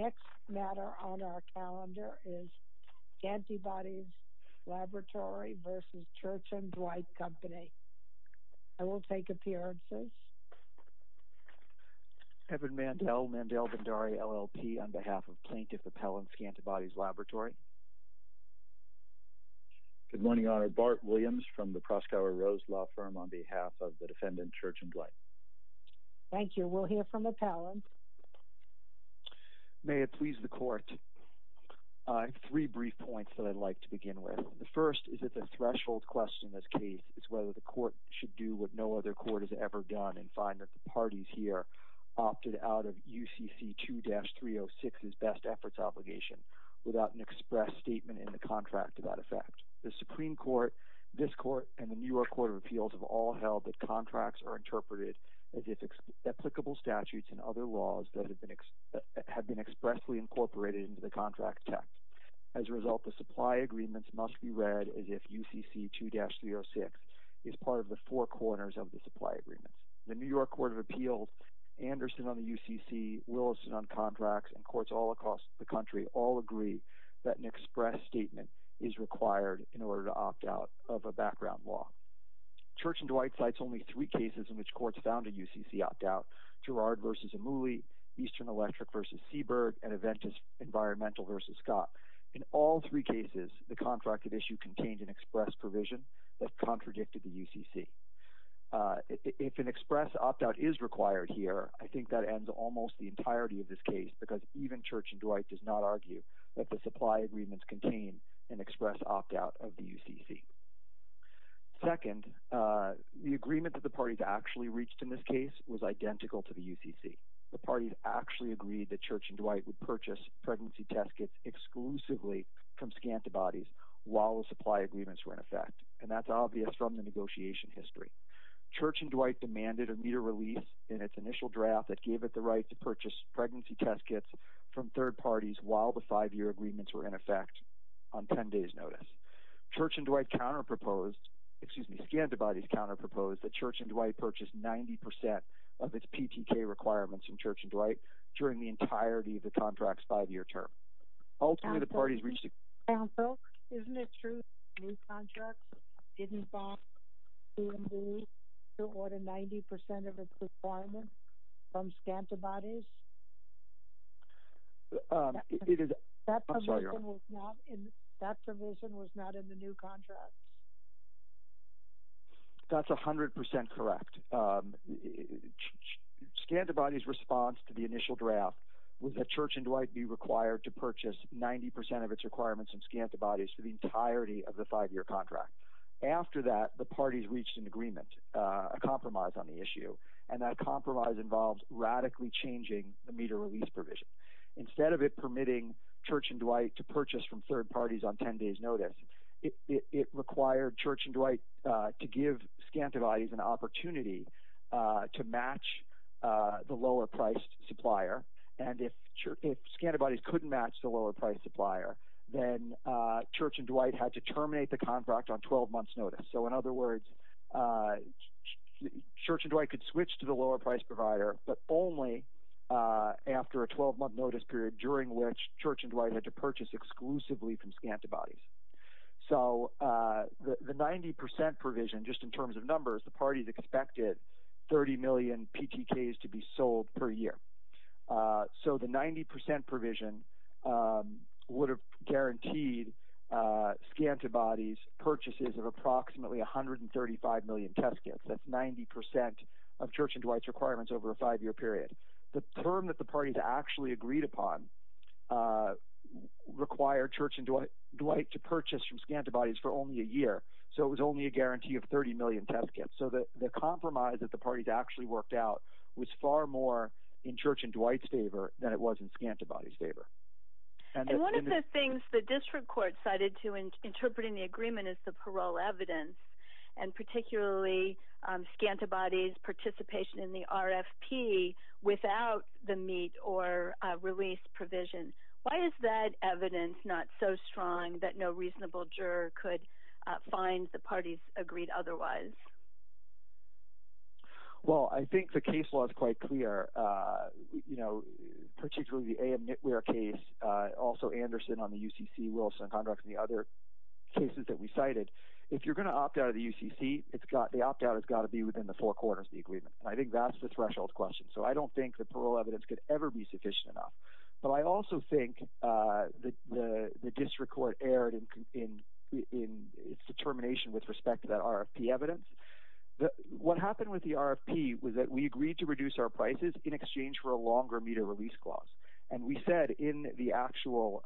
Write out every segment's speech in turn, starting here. The next matter on our calendar is Scantibodies Laboratory vs. Church & Dwight Company. I will take appearances. Evan Mandel, Mandel Vendari, LLP, on behalf of Plaintiff Appellants, Scantibodies Laboratory. Good morning, Your Honor. Bart Williams from the Proskauer Rose Law Firm on behalf of the defendant, Church & Dwight. Thank you. We'll hear from Appellants. May it please the court, I have three brief points that I'd like to begin with. The first is that the threshold question in this case is whether the court should do what no other court has ever done and find that the parties here opted out of UCC 2-306's best efforts obligation without an express statement in the contract to that effect. The Supreme Court, this court, and the New York Court of Appeals have all held that contracts are interpreted as if applicable statutes and other laws that have been expressly incorporated into the contract text. As a result, the supply agreements must be read as if UCC 2-306 is part of the four corners of the supply agreements. The New York Court of Appeals, Anderson on the UCC, Williston on contracts, and courts all across the country all agree that an express statement is required in order to opt out of a background law. Church & Dwight cites only three cases in which courts found a UCC opt-out, Girard v. Amuli, Eastern Electric v. Seaberg, and Aventis Environmental v. Scott. In all three cases, the contract of issue contained an express provision that contradicted the UCC. If an express opt-out is required here, I think that ends almost the entirety of this case because even Church & Dwight does not argue that the supply agreements contain an express opt-out of the UCC. Second, the agreement that the parties actually reached in this case was identical to the UCC. The parties actually agreed that Church & Dwight would purchase pregnancy test kits exclusively from Scantabodies while the supply agreements were in effect, and that's obvious from the negotiation history. Church & Dwight demanded a meter release in its initial draft that gave it the right to purchase pregnancy test kits from third parties while the five-year agreements were in effect on 10 days' notice. Church & Dwight counter-proposed—excuse me, Scantabodies counter-proposed that Church & Dwight purchase 90% of its PTK requirements from Church & Dwight during the entirety of the contract's five-year term. Ultimately, the parties reached— Counsel, isn't it true that the new contract didn't involve CMD to order 90% of its requirements from Scantabodies? That provision was not in the new contract. That's 100% correct. Scantabodies' response to the initial draft was that Church & Dwight be required to purchase 90% of its requirements from Scantabodies for the entirety of the five-year contract. After that, the parties reached an agreement, a compromise on the issue, and that compromise involves radically changing the meter release provision. Instead of it permitting Church & Dwight to purchase from third parties on 10 days' notice, it required Church & Dwight to give Scantabodies an opportunity to match the lower-priced supplier, and if Scantabodies couldn't match the lower-priced supplier, then Church & Dwight had to terminate the contract on 12 months' notice. In other words, Church & Dwight could switch to the lower-priced provider, but only after a 12-month notice period during which Church & Dwight had to purchase exclusively from Scantabodies. The 90% provision, just in terms of numbers, the parties expected 30 million PTKs to be sold per year. So the 90% provision would have guaranteed Scantabodies purchases of approximately 135 million test kits. That's 90% of Church & Dwight's requirements over a five-year period. The term that the parties actually agreed upon required Church & Dwight to purchase from Scantabodies for only a year, so it was only a guarantee of 30 million test kits. So the compromise that the parties actually worked out was far more in Church & Dwight's favor than it was in Scantabodies' favor. And one of the things the district court cited to interpreting the agreement is the parole evidence, and particularly Scantabodies' participation in the RFP without the meet-or-release provision. Why is that evidence not so strong that no reasonable juror could find the parties agreed otherwise? Well, I think the case law is quite clear, particularly the A.M. Knitwear case, also Anderson on the UCC, Wilson on contracts, and the other cases that we cited. If you're going to opt out of the UCC, the opt-out has got to be within the four corners of the agreement, and I think that's the threshold question. So I don't think the parole evidence could ever be sufficient enough. But I also think the district court erred in its determination with respect to that RFP evidence. What happened with the RFP was that we agreed to reduce our prices in exchange for a longer meet-or-release clause. And we said in the actual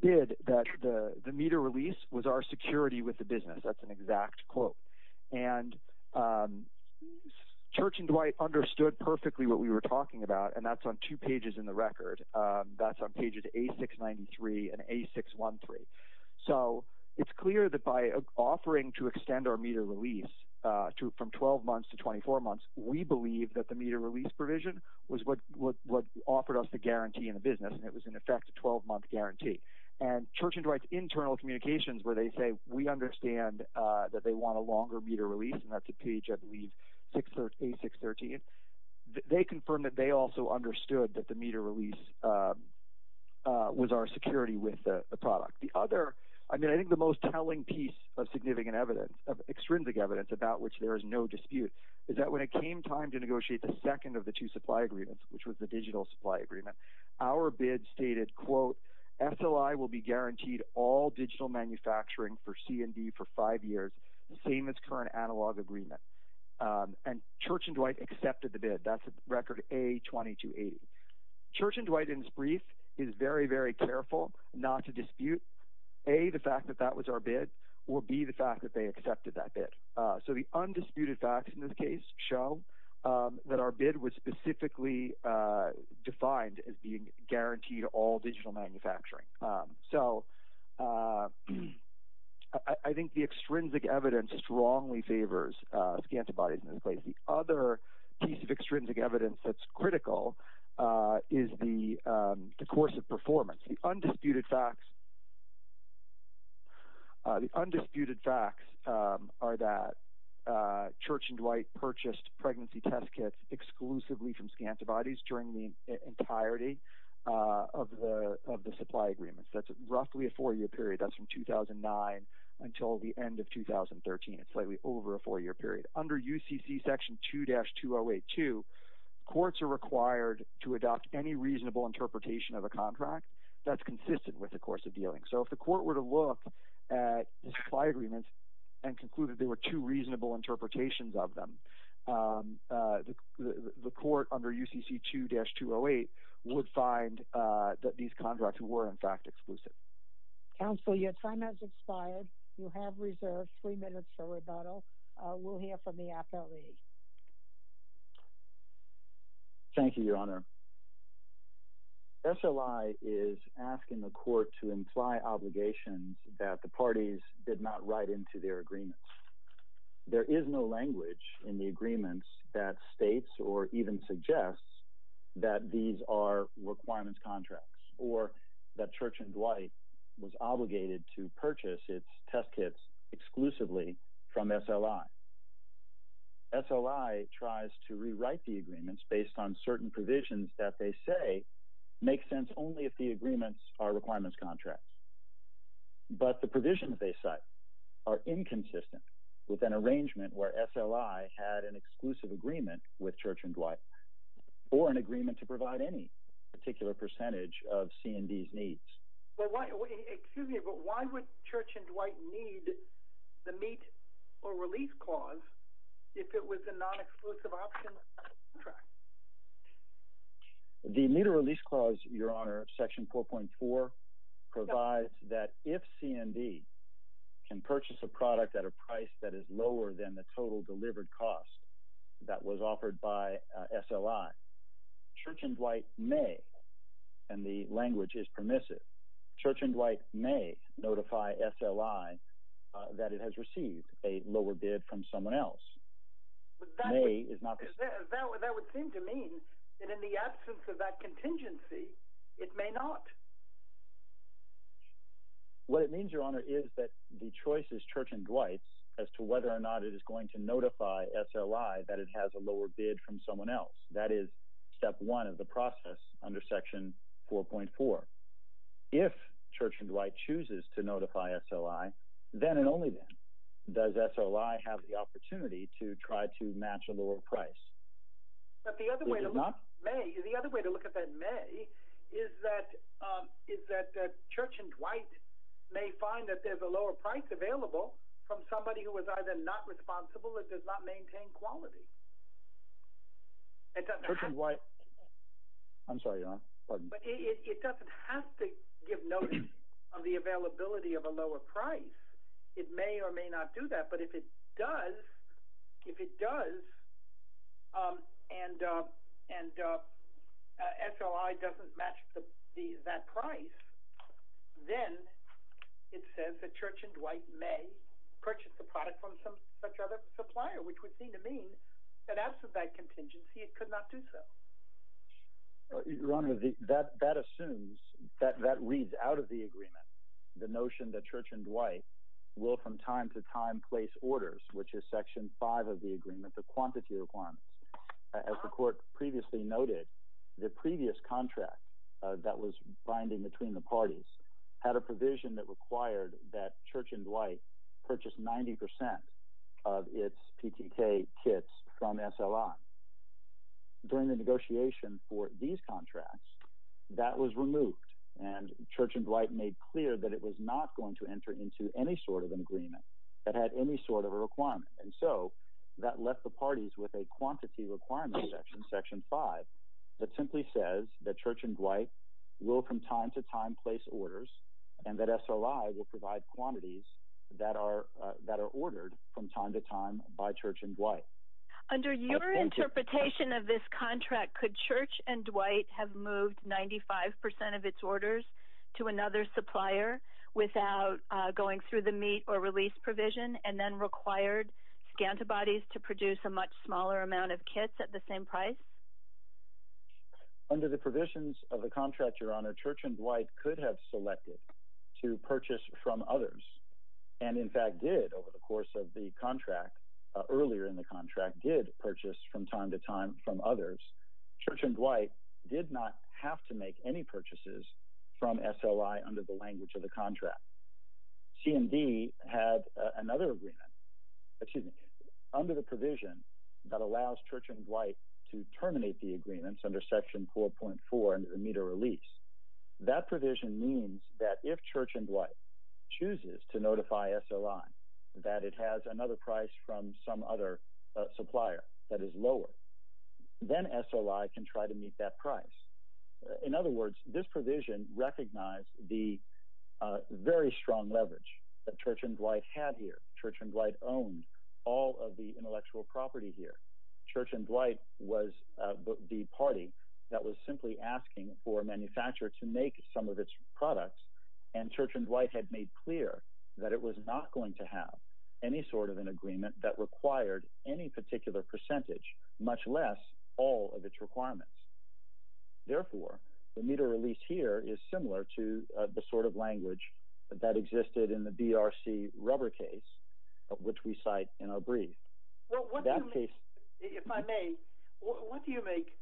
bid that the meet-or-release was our security with the business. That's an exact quote. And Church and Dwight understood perfectly what we were talking about, and that's on two pages in the record. That's on pages A693 and A613. So it's clear that by offering to extend our meet-or-release from 12 months to 24 months, we believe that the meet-or-release provision was what offered us the guarantee in the business, and it was, in effect, a 12-month guarantee. And Church and Dwight's internal communications where they say, we understand that they want a longer meet-or-release, and that's a page, I believe, A613, they confirmed that they also understood that the meet-or-release was our security with the product. The other, I mean, I think the most telling piece of significant evidence, of extrinsic evidence, about which there is no dispute is that when it came time to negotiate the second of the two supply agreements, which was the digital supply agreement, our bid stated, quote, SLI will be guaranteed all digital manufacturing for C&D for five years, same as current analog agreement. And Church and Dwight accepted the bid. That's record A2280. Church and Dwight, in this brief, is very, very careful not to dispute, A, the fact that that was our bid, or B, the fact that they accepted that bid. So the undisputed facts in this case show that our bid was specifically defined as being guaranteed all digital manufacturing. So I think the extrinsic evidence strongly favors scantibodies in this case. The other piece of extrinsic evidence that's critical is the course of performance. The undisputed facts are that Church and Dwight purchased pregnancy test kits exclusively from scantibodies during the entirety of the supply agreements. That's roughly a four-year period. That's from 2009 until the end of 2013. It's slightly over a four-year period. Under UCC Section 2-2082, courts are required to adopt any reasonable interpretation of a contract that's consistent with the course of dealing. So if the court were to look at supply agreements and conclude that there were two reasonable interpretations of them, the court under UCC 2-208 would find that these contracts were, in fact, exclusive. Counsel, your time has expired. You have reserved three minutes for rebuttal. We'll hear from the appellee. Thank you, Your Honor. SLI is asking the court to imply obligations that the parties did not write into their agreements. There is no language in the agreements that states or even suggests that these are requirements contracts or that Church and Dwight was obligated to purchase its test kits exclusively from SLI. SLI tries to rewrite the agreements based on certain provisions that they say make sense only if the agreements are requirements contracts. But the provisions they cite are inconsistent with an arrangement where SLI had an exclusive agreement with Church and Dwight or an agreement to provide any particular percentage of C&D's needs. Excuse me, but why would Church and Dwight need the meet or release clause if it was a non-exclusive option contract? The meet or release clause, Your Honor, Section 4.4, provides that if C&D can purchase a product at a price that is lower than the total delivered cost that was offered by SLI, Church and Dwight may, and the language is permissive, Church and Dwight may notify SLI that it has received a lower bid from someone else. That would seem to mean that in the absence of that contingency, it may not. What it means, Your Honor, is that the choice is Church and Dwight's as to whether or not it is going to notify SLI that it has a lower bid from someone else. That is step one of the process under Section 4.4. If Church and Dwight chooses to notify SLI, then and only then does SLI have the opportunity to try to match a lower price. But the other way to look at that may is that Church and Dwight may find that there's a lower price available from somebody who is either not responsible or does not maintain quality. But it doesn't have to give notice of the availability of a lower price. It may or may not do that, but if it does, and SLI doesn't match that price, then it says that Church and Dwight may purchase the product from such other supplier, which would seem to mean that in the absence of that contingency, it could not do so. Your Honor, that assumes, that reads out of the agreement, the notion that Church and Dwight will from time to time place orders, which is Section 5 of the agreement, the quantity requirements. As the Court previously noted, the previous contract that was binding between the parties had a provision that required that Church and Dwight purchase 90 percent of its PTK kits from SLI. During the negotiation for these contracts, that was removed, and Church and Dwight made clear that it was not going to enter into any sort of an agreement that had any sort of a requirement. And so that left the parties with a quantity requirement in Section 5 that simply says that Church and Dwight will from time to time place orders, and that SLI will provide quantities that are ordered from time to time by Church and Dwight. Under your interpretation of this contract, could Church and Dwight have moved 95 percent of its orders to another supplier without going through the meet or release provision, and then required Scantabodies to produce a much smaller amount of kits at the same price? Under the provisions of the contract, Your Honor, Church and Dwight could have selected to purchase from others, and in fact did over the course of the contract, earlier in the contract, did purchase from time to time from others. Church and Dwight did not have to make any purchases from SLI under the language of the contract. C&D had another agreement, excuse me, under the provision that allows Church and Dwight to terminate the agreements under Section 4.4 under meet or release. That provision means that if Church and Dwight chooses to notify SLI that it has another price from some other supplier that is lower, then SLI can try to meet that price. In other words, this provision recognized the very strong leverage that Church and Dwight had here. Church and Dwight owned all of the intellectual property here. Church and Dwight was the party that was simply asking for a manufacturer to make some of its products, and Church and Dwight had made clear that it was not going to have any sort of an agreement that required any particular percentage, much less all of its requirements. Therefore, the meet or release here is similar to the sort of language that existed in the BRC rubber case, which we cite in our brief. Well, if I may, what do you make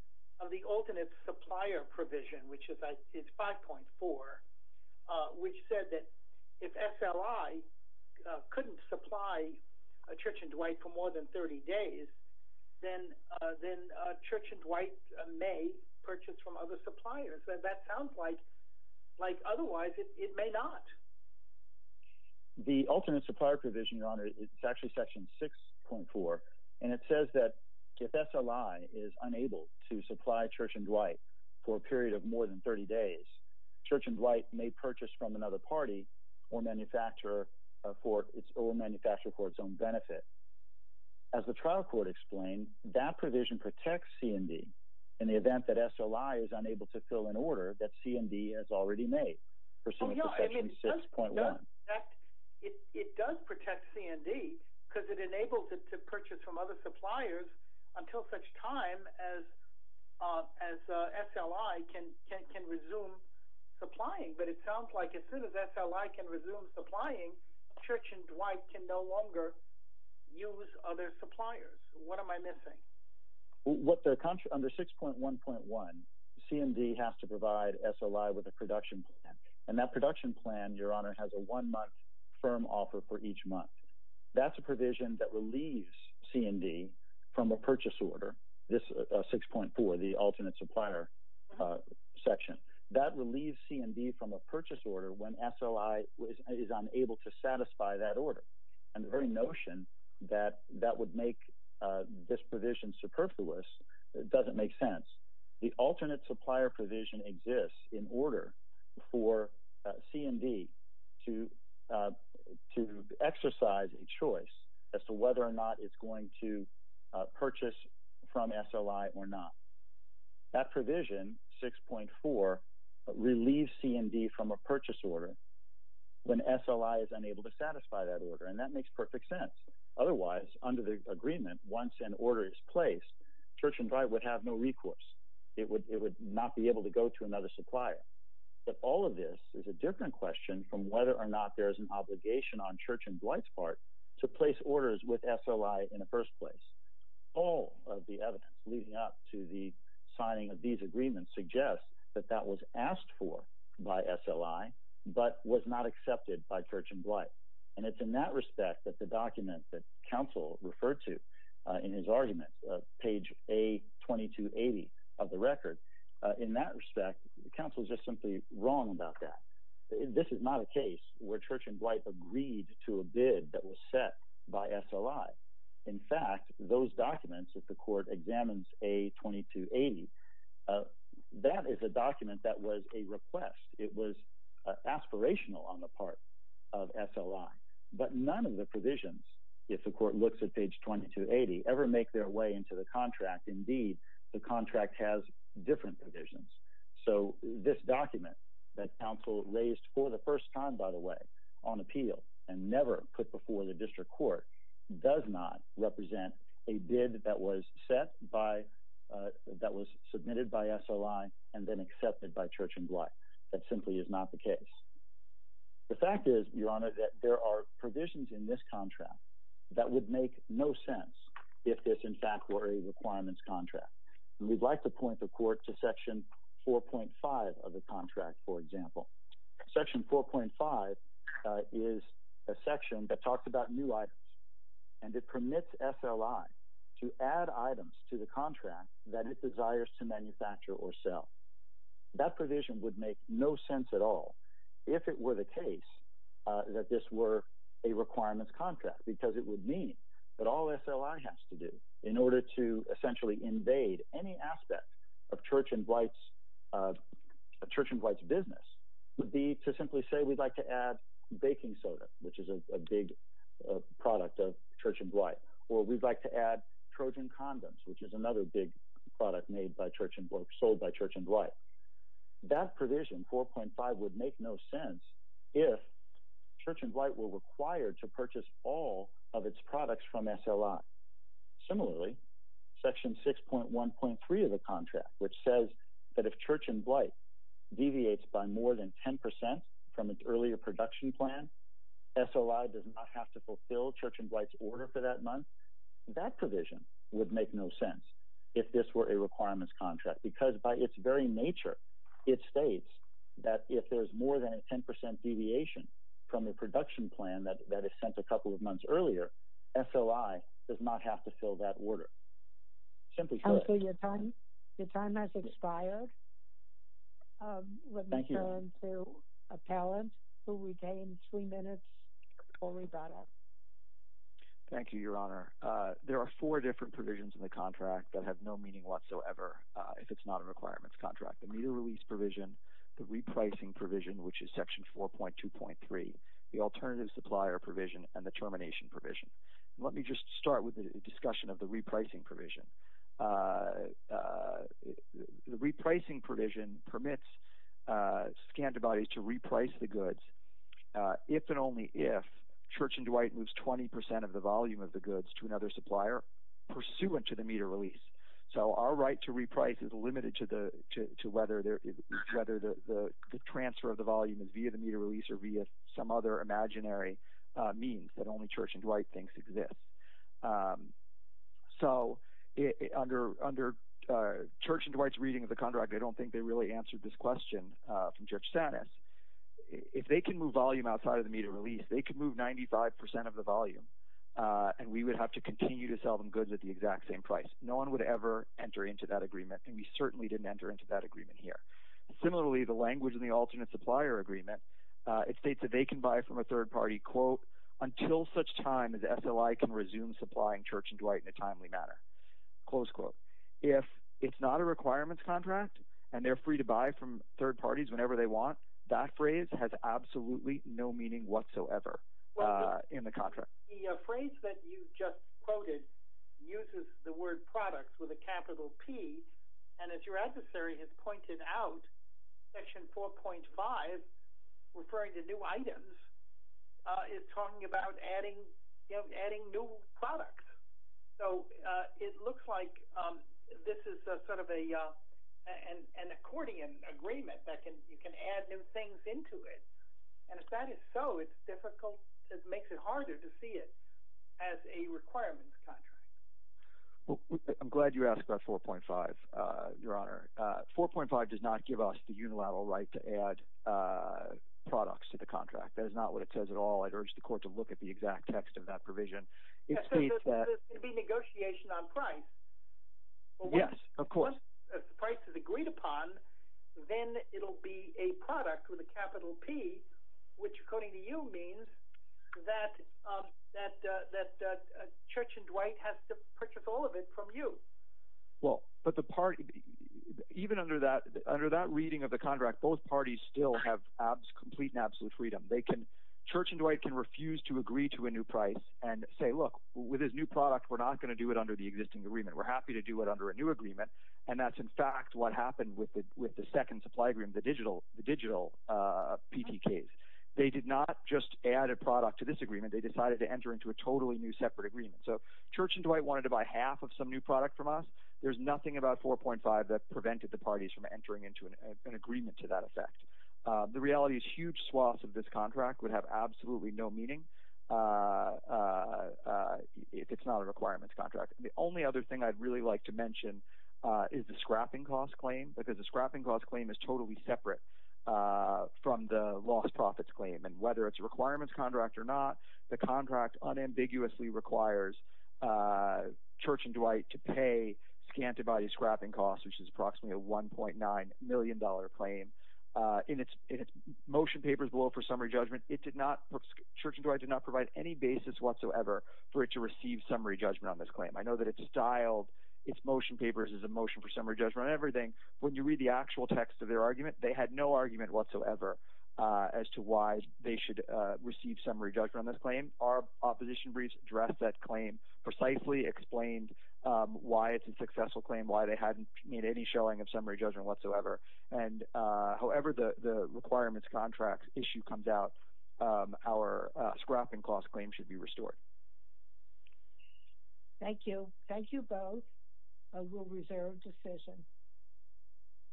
of the alternate supplier provision, which is 5.4, which said that if SLI couldn't supply Church and Dwight for more than 30 days, then Church and Dwight may purchase from other suppliers. That sounds like otherwise it may not. The alternate supplier provision, Your Honor, is actually section 6.4, and it says that if SLI is unable to supply Church and Dwight for a period of more than 30 days, Church and Dwight may purchase from another party or manufacturer for its own benefit. As the trial court explained, that provision protects C&D in the event that SLI is unable to fill an order that C&D has already made. It does protect C&D because it enables it to purchase from other suppliers until such time as SLI can resume supplying. But it sounds like as soon as SLI can resume supplying, Church and Dwight can no longer use other suppliers. What am I missing? Under 6.1.1, C&D has to provide SLI with a production plan, and that production plan, Your Honor, has a one-month firm offer for each month. That's a provision that relieves C&D from a purchase order, 6.4, the alternate supplier section. That relieves C&D from a purchase order when SLI is unable to satisfy that order, and the very notion that that would make this provision superfluous doesn't make sense. The alternate supplier provision exists in order for C&D to exercise a choice as to whether or not it's going to purchase from SLI or not. That provision, 6.4, relieves C&D from a purchase order when SLI is unable to satisfy that order, and that makes perfect sense. Otherwise, under the agreement, once an order is placed, Church and Dwight would have no recourse. It would not be able to go to another supplier. But all of this is a different question from whether or not there is an obligation on Church and Dwight's part to place orders with SLI in the first place. All of the evidence leading up to the signing of these agreements suggests that that was asked for by SLI but was not accepted by Church and Dwight. And it's in that respect that the document that counsel referred to in his argument, page A2280 of the record, in that respect, counsel is just simply wrong about that. This is not a case where Church and Dwight agreed to a bid that was set by SLI. In fact, those documents, if the court examines A2280, that is a document that was a request. It was aspirational on the part of SLI. But none of the provisions, if the court looks at page 2280, ever make their way into the contract. Indeed, the contract has different provisions. So this document that counsel raised for the first time, by the way, on appeal and never put before the district court, does not represent a bid that was submitted by SLI and then accepted by Church and Dwight. That simply is not the case. The fact is, Your Honor, that there are provisions in this contract that would make no sense if this, in fact, were a requirements contract. We'd like to point the court to section 4.5 of the contract, for example. Section 4.5 is a section that talks about new items, and it permits SLI to add items to the contract that it desires to manufacture or sell. That provision would make no sense at all if it were the case that this were a requirements contract, because it would mean that all SLI has to do in order to essentially invade any aspect of Church and Dwight's business would be to simply say we'd like to add baking soda, which is a big product of Church and Dwight, or we'd like to add Trojan condoms, which is another big product sold by Church and Dwight. That provision, 4.5, would make no sense if Church and Dwight were required to purchase all of its products from SLI. Similarly, section 6.1.3 of the contract, which says that if Church and Dwight deviates by more than 10% from its earlier production plan, SLI does not have to fulfill Church and Dwight's order for that month, that provision would make no sense if this were a requirements contract, because by its very nature, it states that if there's more than a 10% deviation from the production plan that is sent a couple of months earlier, SLI does not have to fill that order. Simply put. Your time has expired. Let me turn to Appellant, who retained three minutes before we brought up. Thank you, Your Honor. There are four different provisions in the contract that have no meaning whatsoever. If it's not a requirements contract. The meter release provision, the repricing provision, which is section 4.2.3, the alternative supplier provision, and the termination provision. Let me just start with a discussion of the repricing provision. The repricing provision permits Scantabodies to reprice the goods if and only if Church and Dwight moves 20% of the volume of the goods to another supplier pursuant to the meter release. So our right to reprice is limited to whether the transfer of the volume is via the meter release or via some other imaginary means that only Church and Dwight thinks exists. So under Church and Dwight's reading of the contract, I don't think they really answered this question from Judge Sanis. If they can move volume outside of the meter release, they can move 95% of the volume, and we would have to continue to sell them goods at the exact same price. No one would ever enter into that agreement, and we certainly didn't enter into that agreement here. Similarly, the language in the alternate supplier agreement, it states that they can buy from a third party, quote, until such time as SLI can resume supplying Church and Dwight in a timely manner, close quote. If it's not a requirements contract and they're free to buy from third parties whenever they want, that phrase has absolutely no meaning whatsoever in the contract. The phrase that you just quoted uses the word products with a capital P, and as your adversary has pointed out, section 4.5, referring to new items, is talking about adding new products. So it looks like this is sort of an accordion agreement that you can add new things into it. And if that is so, it's difficult – it makes it harder to see it as a requirements contract. I'm glad you asked about 4.5, Your Honor. 4.5 does not give us the unilateral right to add products to the contract. That is not what it says at all. I'd urge the court to look at the exact text of that provision. So there's going to be negotiation on price. Yes, of course. Once the price is agreed upon, then it'll be a product with a capital P, which according to you means that Church and Dwight has to purchase all of it from you. Well, but the party – even under that reading of the contract, both parties still have complete and absolute freedom. They can – Church and Dwight can refuse to agree to a new price and say, look, with this new product, we're not going to do it under the existing agreement. We're happy to do it under a new agreement, and that's in fact what happened with the second supply agreement, the digital PTKs. They did not just add a product to this agreement. They decided to enter into a totally new separate agreement. So Church and Dwight wanted to buy half of some new product from us. There's nothing about 4.5 that prevented the parties from entering into an agreement to that effect. The reality is huge swaths of this contract would have absolutely no meaning if it's not a requirements contract. The only other thing I'd really like to mention is the scrapping cost claim because the scrapping cost claim is totally separate from the lost profits claim. And whether it's a requirements contract or not, the contract unambiguously requires Church and Dwight to pay Scantabody's scrapping cost, which is approximately a $1.9 million claim. In its motion papers below for summary judgment, it did not – Church and Dwight did not provide any basis whatsoever for it to receive summary judgment on this claim. I know that it's styled its motion papers as a motion for summary judgment on everything. When you read the actual text of their argument, they had no argument whatsoever as to why they should receive summary judgment on this claim. Our opposition briefs addressed that claim precisely, explained why it's a successful claim, why they hadn't made any showing of summary judgment whatsoever. And however the requirements contract issue comes out, our scrapping cost claim should be restored. Thank you. Thank you both. I will reserve decision.